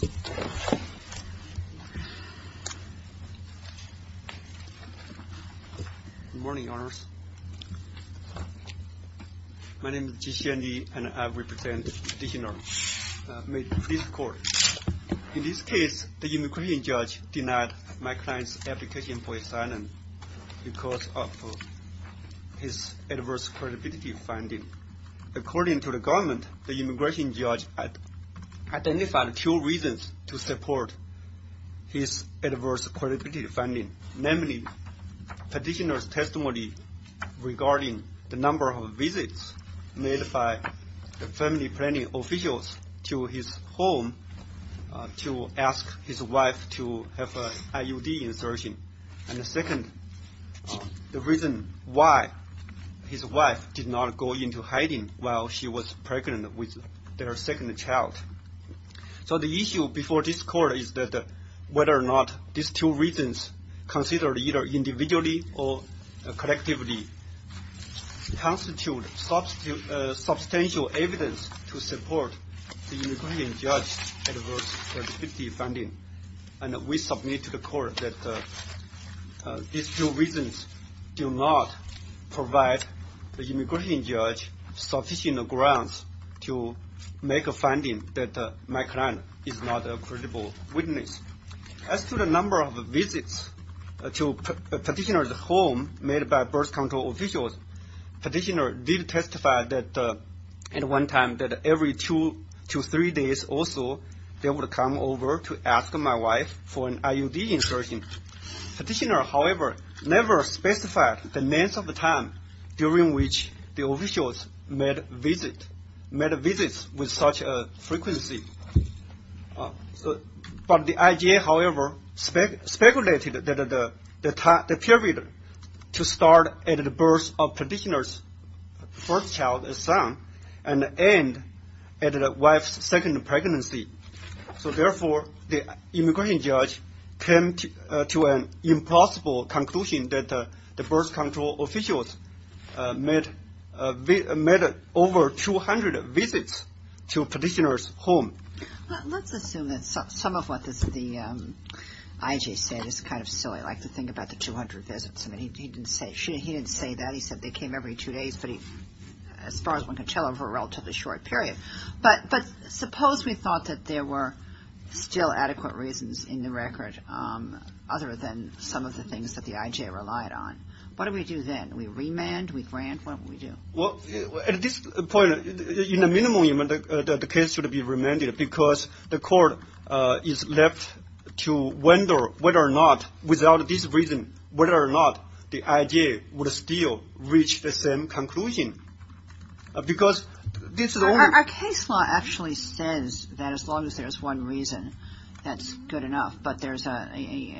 Good morning, Your Honors. My name is Jinxuan Li, and I represent the Dixing Court. In this case, the immigration judge denied my client's application for asylum because of his adverse credibility finding. According to the government, the immigration judge identified two reasons to support his adverse credibility finding, namely petitioner's testimony regarding the number of visits made by the family planning officials to his home to ask his wife to have an IUD insertion, and second, the reason why his wife did not go into hiding while she was pregnant with their second child. So the issue before this court is that whether or not these two reasons, considered either individually or collectively, constitute substantial evidence to support the immigration judge's adverse credibility finding. And we submit to the court that these two reasons do not provide the immigration judge sufficient grounds to make a finding that my client is not a credible witness. As to the number of visits to petitioner's home made by birth control officials, petitioner did testify that at one time that every two to three days or so, there would come over to ask my wife for an IUD insertion. Petitioner, however, never specified the length of the time during which the officials made visits with such a frequency. But the IGA, however, speculated that the period to start at the birth of So therefore, the immigration judge came to an impossible conclusion that the birth control officials made over 200 visits to petitioner's home. Let's assume that some of what the IGA said is kind of silly, like the thing about the 200 visits. I mean, he didn't say that. He still adequate reasons in the record, other than some of the things that the IGA relied on. What do we do then? We remand? We grant? What do we do? Well, at this point, in a minimum, the case should be remanded because the court is left to wonder whether or not, without this reason, whether or not the IGA would still reach the same conclusion. Because this is a case, as long as there's one reason, that's good enough. But there's a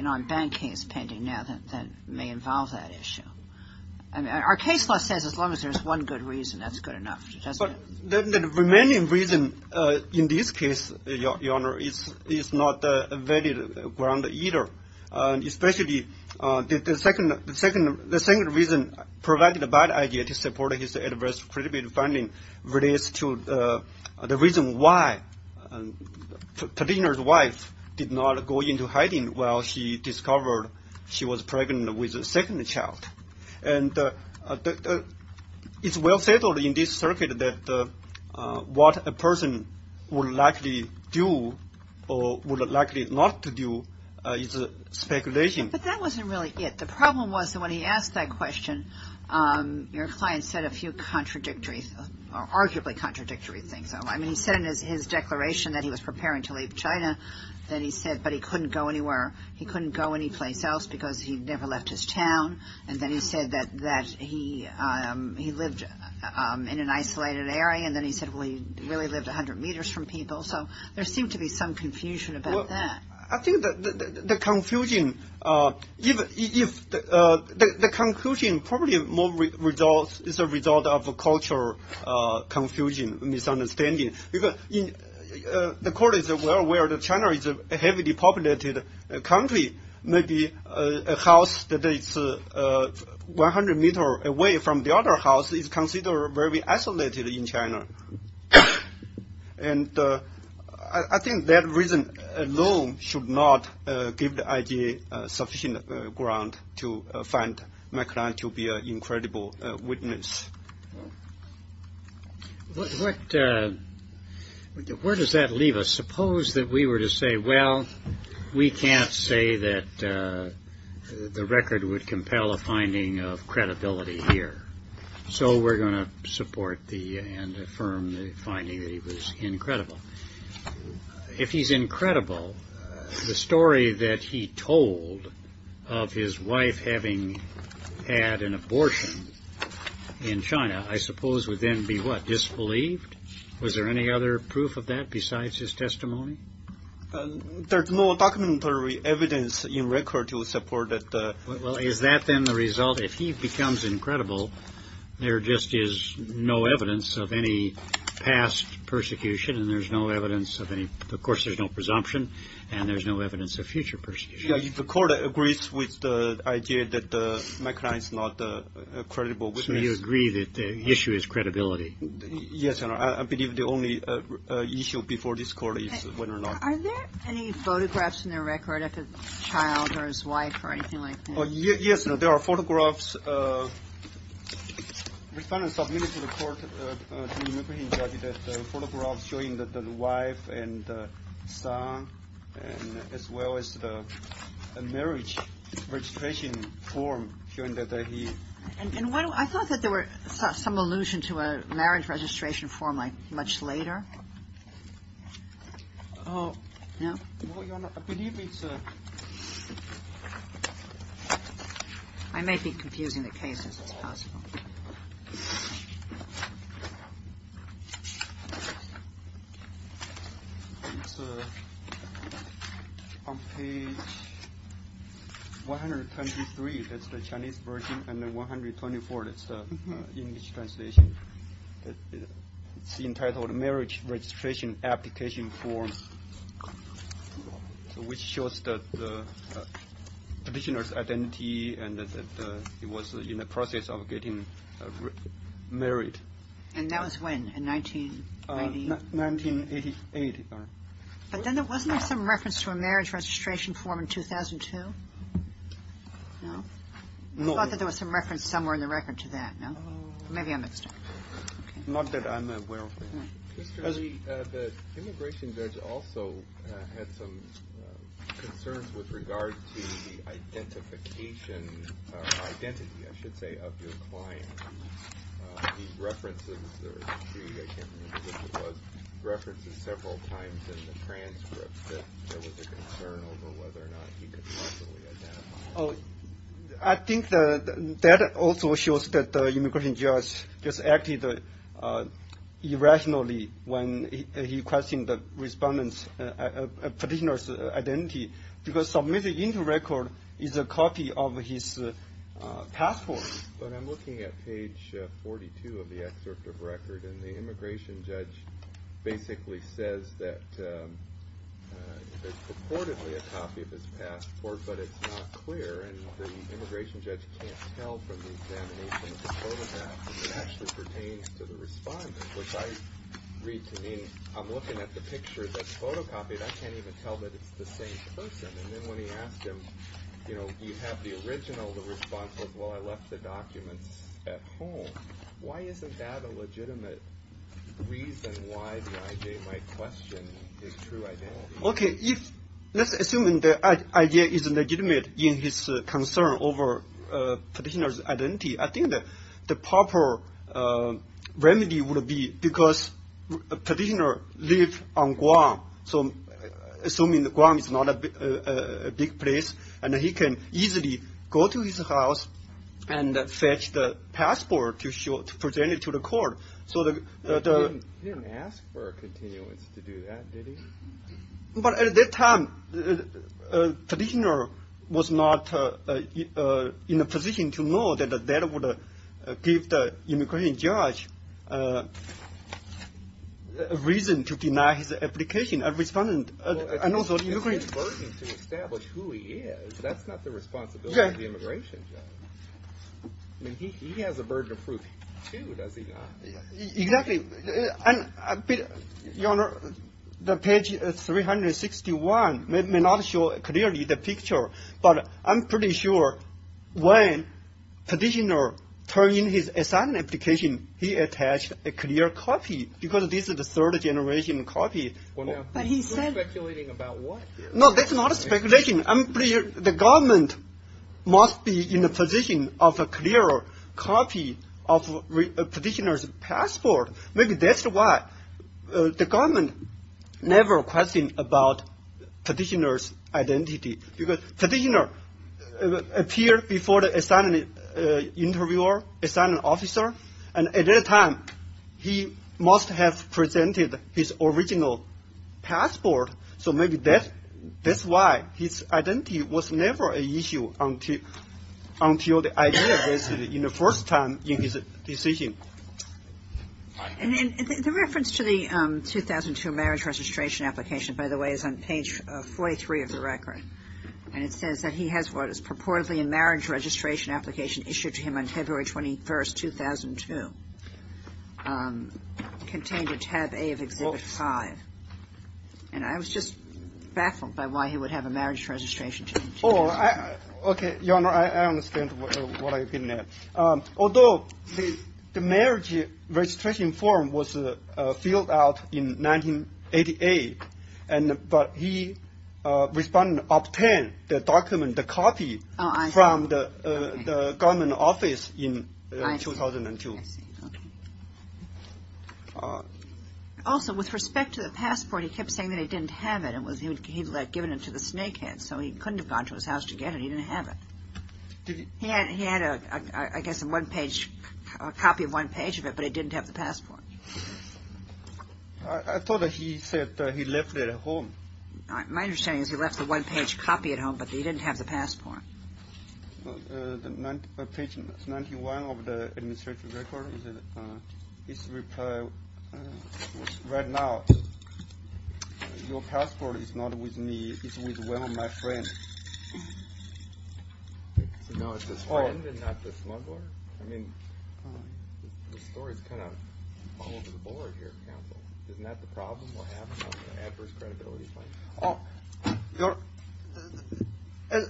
non-ban case pending now that may involve that issue. I mean, our case law says as long as there's one good reason, that's good enough, doesn't it? The remaining reason in this case, Your Honor, is not a valid ground either. Especially the second reason provided by the IGA to support his adverse predisposition finding relates to the reason why Padena's wife did not go into hiding while she discovered she was pregnant with a second child. And it's well settled in this circuit that what a person would likely do or would likely not do is speculation. But that wasn't really it. The problem was that when he asked that question, your client said a few contradictory, arguably contradictory things. I mean, he said in his declaration that he was preparing to leave China. Then he said, but he couldn't go anywhere. He couldn't go anyplace else because he'd never left his town. And then he said that he lived in an isolated area. And then he said, well, he really lived 100 meters from people. So there seemed to be some confusion about that. I think that the confusion probably is a result of cultural confusion, misunderstanding. The court is well aware that China is a heavily populated country. Maybe a house that is 100 meters away from the other house is considered very isolated in China. And I think that reason alone should not give the IGA sufficient ground to find my client to be an incredible witness. Where does that leave us? Suppose that we were to say, well, we can't say that the record would compel a finding of credibility here. So we're going to China, I suppose, would then be what disbelieved. Was there any other proof of that besides his testimony? There's no documentary evidence in record to support that. Well, is that then the result? If he becomes incredible, there just is no evidence of any past persecution and there's no evidence of any. Of course, there's no evidence that the issue is credibility. Yes. I believe the only issue before this court is whether or not. Are there any photographs in the record of a child or his wife or anything like that? Yes. There are photographs showing that the wife and son and as well as the marriage registration form. I thought that there were some allusion to a marriage registration form like much later. I may be confusing the cases. It's possible on page one hundred twenty three. That's the Chinese version. And then one hundred twenty four. It's the English translation. It's entitled Marriage Registration Application for which shows that the petitioner's identity and that he was in the process of getting married. And that was when? In nineteen eighty eight. But then there wasn't some reference to a marriage registration form in two thousand two. No, not that there was some reference somewhere in the record to that. Maybe I'm not that I'm aware of the immigration judge also had some concerns with regard to the identification identity, I should say, of your client. I think that also shows that the immigration judge just acted irrationally when he questioned the respondent's petitioner's identity because submitted into record is a copy of his passport. But I'm looking at page forty two of the excerpt of record and the immigration judge basically says that there's purportedly a copy of his passport, but it's not clear. And the immigration judge can't tell from the examination that actually pertains to the respondent, which I read to mean I'm looking at the picture that's photocopied. I can't even tell that it's the same person. And then when he asked him, you know, you have the original, the response was, well, I left the documents at home. Why isn't that a legitimate reason why they might question his true identity? OK, if let's assume the idea is legitimate in his concern over petitioner's identity, I think that the proper remedy would be because petitioner live on Guam. So assuming the Guam is not a big place and he can easily go to his house and fetch the passport to show it to the court. So he didn't ask for a continuance to do that, did he? But at that time, the petitioner was not in a position to know that that would give the immigration judge a reason to deny his application. A respondent and also the immigration judge's burden to establish who he is, that's not the responsibility of the immigration judge. I mean, he has a burden of proof, too, does he not? Exactly. And, Your Honor, the page 361 may not show clearly the picture, but I'm pretty sure when petitioner turn in his asylum application, he attached a clear copy because this is the third generation copy. But he said... You're speculating about what? No, that's not a speculation. I'm pretty sure the government must be in a position of a clear copy of a petitioner's passport. Maybe that's why the government never question about petitioner's identity, because petitioner appear before the asylum interviewer, asylum officer. And at that time, he must have presented his original passport. So maybe that's why his identity was never an issue until the idea was in the first time in his decision. And then the reference to the 2002 marriage registration application, by the way, is on page 43 of the record. And it says that he has what is purportedly a marriage registration application issued to him on February 21st, 2002, contained a tab A of Exhibit 5. And I was just baffled by why he would have a marriage registration. Oh, OK, Your Honor, I understand what you're getting at. Although the marriage registration form was filled out in 1988, but he obtained the document, the copy, from the government office in 2002. Also, with respect to the passport, he kept saying that he didn't have it, and he had given it to the snake head, so he couldn't have gone to his house to get it. He didn't have it. He had, I guess, a one-page copy of it, but he didn't have the passport. I thought he said he left it at home. My understanding is he left the one-page copy at home, but he didn't have the passport. On page 91 of the administrative record, it says, right now, your passport is not with me, it's with one of my friends. No, it's his friend and not the smuggler? I mean, the story's kind of all over the board here at counsel. Isn't that the problem? What happens when there's adverse credibility claims?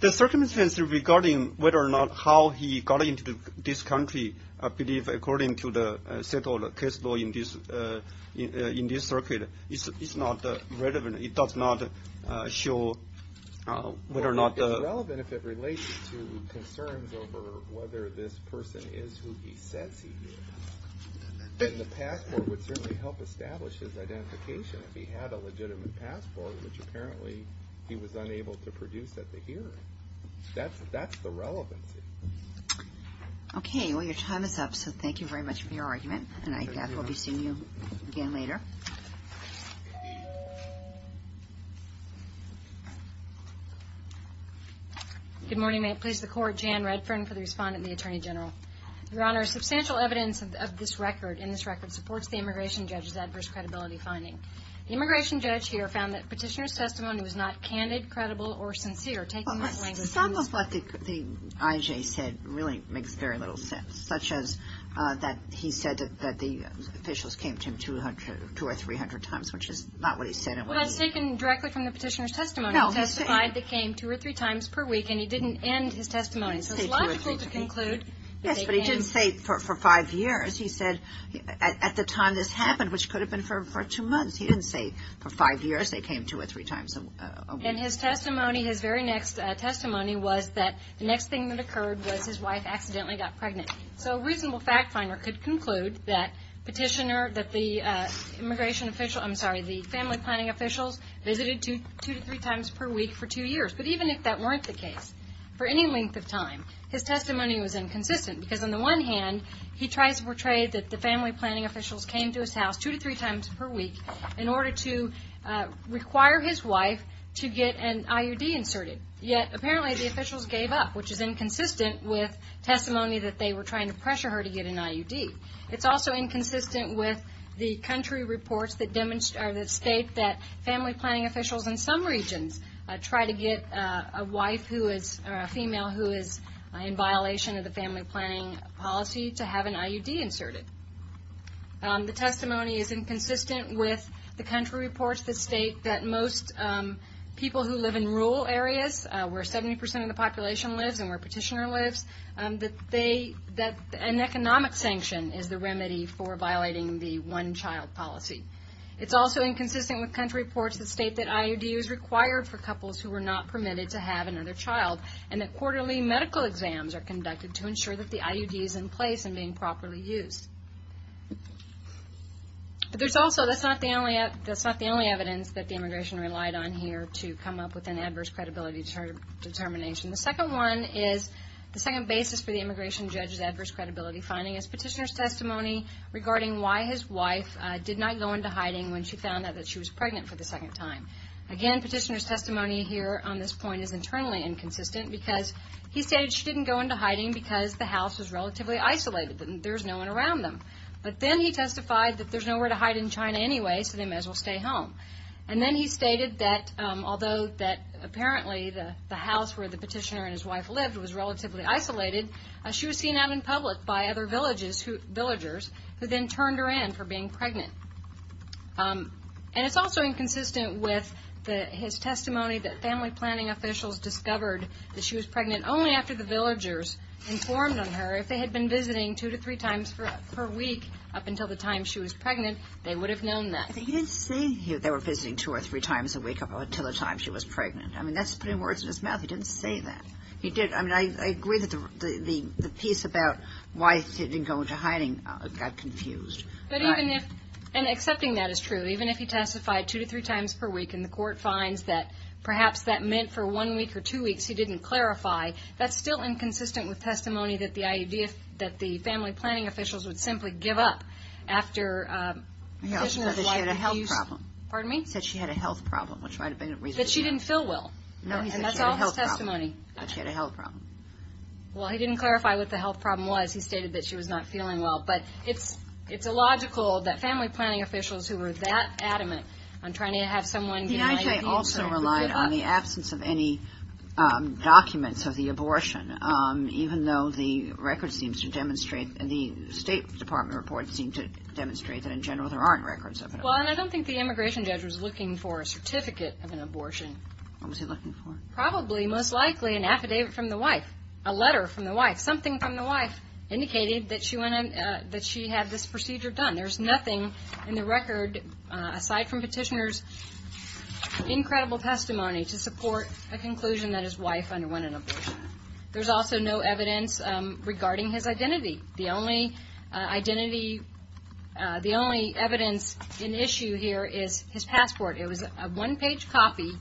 The circumstance regarding whether or not how he got into this country, I believe, according to the case law in this circuit, is not relevant. It does not show whether or not... It's relevant if it relates to concerns over whether this person is who he says he is. And the passport would certainly help establish his identification if he had a legitimate passport, which apparently he was unable to produce at the hearing. That's the relevancy. Okay, well, your time is up, so thank you very much for your argument, and I will be seeing you again later. Good morning. May it please the Court. Jan Redfern for the Respondent and the Attorney General. Your Honor, substantial evidence in this record supports the Immigration Judge's adverse credibility finding. The Immigration Judge here found that Petitioner's testimony was not candid, credible, or sincere. Some of what the IJ said really makes very little sense. Such as that he said that the officials came to him two or three hundred times, which is not what he said it was. Well, that's taken directly from the Petitioner's testimony. He testified they came two or three times per week, and he didn't end his testimony. So it's logical to conclude that they came... Yes, but he didn't say for five years. He said at the time this happened, which could have been for two months. He didn't say for five years they came two or three times a week. And his testimony, his very next testimony, was that the next thing that occurred was his wife accidentally got pregnant. So a reasonable fact finder could conclude that Petitioner, that the immigration official, I'm sorry, the family planning officials, visited two to three times per week for two years. But even if that weren't the case, for any length of time, his testimony was inconsistent. Because on the one hand, he tries to portray that the family planning officials came to his house two to three times per week in order to require his wife to get an IUD inserted. Yet apparently the officials gave up, which is inconsistent with testimony that they were trying to pressure her to get an IUD. It's also inconsistent with the country reports that state that family planning officials in some regions try to get a wife or a female who is in violation of the family planning policy to have an IUD inserted. The testimony is inconsistent with the country reports that state that most people who live in rural areas, where 70% of the population lives and where Petitioner lives, that an economic sanction is the remedy for violating the one-child policy. It's also inconsistent with country reports that state that IUD is required for couples who are not permitted to have another child and that quarterly medical exams are conducted to ensure that the IUD is in place and being properly used. But there's also, that's not the only evidence that the immigration relied on here to come up with an adverse credibility determination. The second one is, the second basis for the immigration judge's adverse credibility finding is Petitioner's testimony regarding why his wife did not go into hiding when she found out that she was pregnant for the second time. Again, Petitioner's testimony here on this point is internally inconsistent because he stated she didn't go into hiding because the house was relatively isolated and there's no one around them. But then he testified that there's nowhere to hide in China anyway, so they may as well stay home. And then he stated that although that apparently the house where the Petitioner and his wife lived was relatively isolated, she was seen out in public by other villagers who then turned her in for being pregnant. And it's also inconsistent with his testimony that family planning officials discovered that she was pregnant only after the villagers informed on her. If they had been visiting two to three times per week up until the time she was pregnant, they would have known that. He didn't say they were visiting two or three times a week up until the time she was pregnant. I mean, that's putting words in his mouth. He didn't say that. I mean, I agree that the piece about why he didn't go into hiding got confused. But even if, and accepting that is true, even if he testified two to three times per week and the court finds that perhaps that meant for one week or two weeks he didn't clarify, that's still inconsistent with testimony that the idea that the family planning officials would simply give up after Petitioner's wife... He also said that she had a health problem. Pardon me? He said she had a health problem, which might have been a reason. That she didn't feel well. No, he said she had a health problem. But she had a health problem. Well, he didn't clarify what the health problem was. He stated that she was not feeling well. But it's illogical that family planning officials who were that adamant on trying to have someone... The IJ also relied on the absence of any documents of the abortion, even though the records seem to demonstrate, the State Department reports seem to demonstrate that in general there aren't records of it. Well, and I don't think the immigration judge was looking for a certificate of an abortion. What was he looking for? Probably, most likely, an affidavit from the wife. A letter from the wife. Something from the wife indicated that she had this procedure done. There's nothing in the record, aside from Petitioner's incredible testimony, to support a conclusion that his wife underwent an abortion. There's also no evidence regarding his identity. The only identity, the only evidence in issue here is his passport. It was a one-page copy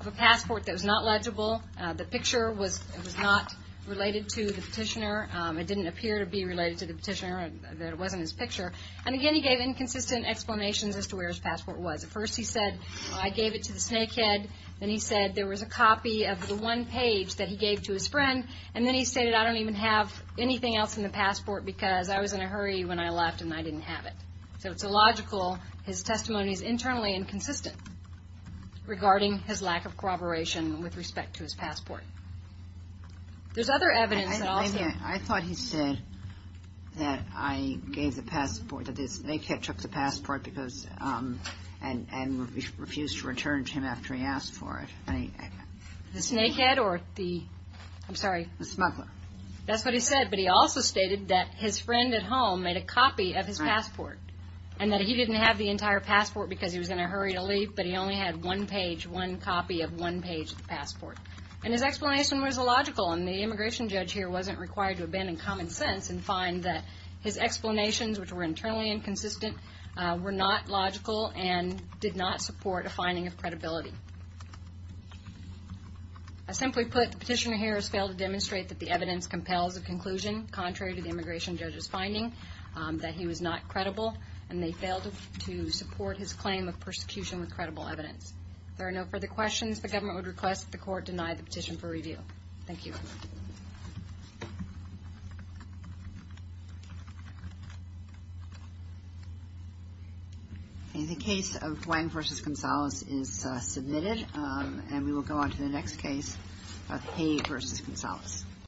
of a passport that was not legible. The picture was not related to the Petitioner. It didn't appear to be related to the Petitioner, that it wasn't his picture. And again, he gave inconsistent explanations as to where his passport was. At first he said, I gave it to the snake head. Then he said there was a copy of the one page that he gave to his friend. And then he stated, I don't even have anything else in the passport because I was in a hurry when I left and I didn't have it. So it's illogical. His testimony is internally inconsistent regarding his lack of corroboration with respect to his passport. There's other evidence that also... I thought he said that I gave the passport, that the snake head took the passport and refused to return to him after he asked for it. The snake head or the... I'm sorry. The smuggler. That's what he said, but he also stated that his friend at home made a copy of his passport. And that he didn't have the entire passport because he was in a hurry to leave, but he only had one page, one copy of one page of the passport. And his explanation was illogical, and the immigration judge here wasn't required to abandon common sense and find that his explanations, which were internally inconsistent, I simply put, the petitioner here has failed to demonstrate that the evidence compels a conclusion, contrary to the immigration judge's finding, that he was not credible, and they failed to support his claim of persecution with credible evidence. If there are no further questions, the government would request that the court deny the petition for review. Thank you. In the case of Hwang v. Gonzalez is submitted, and we will go on to the next case of Hay v. Gonzalez.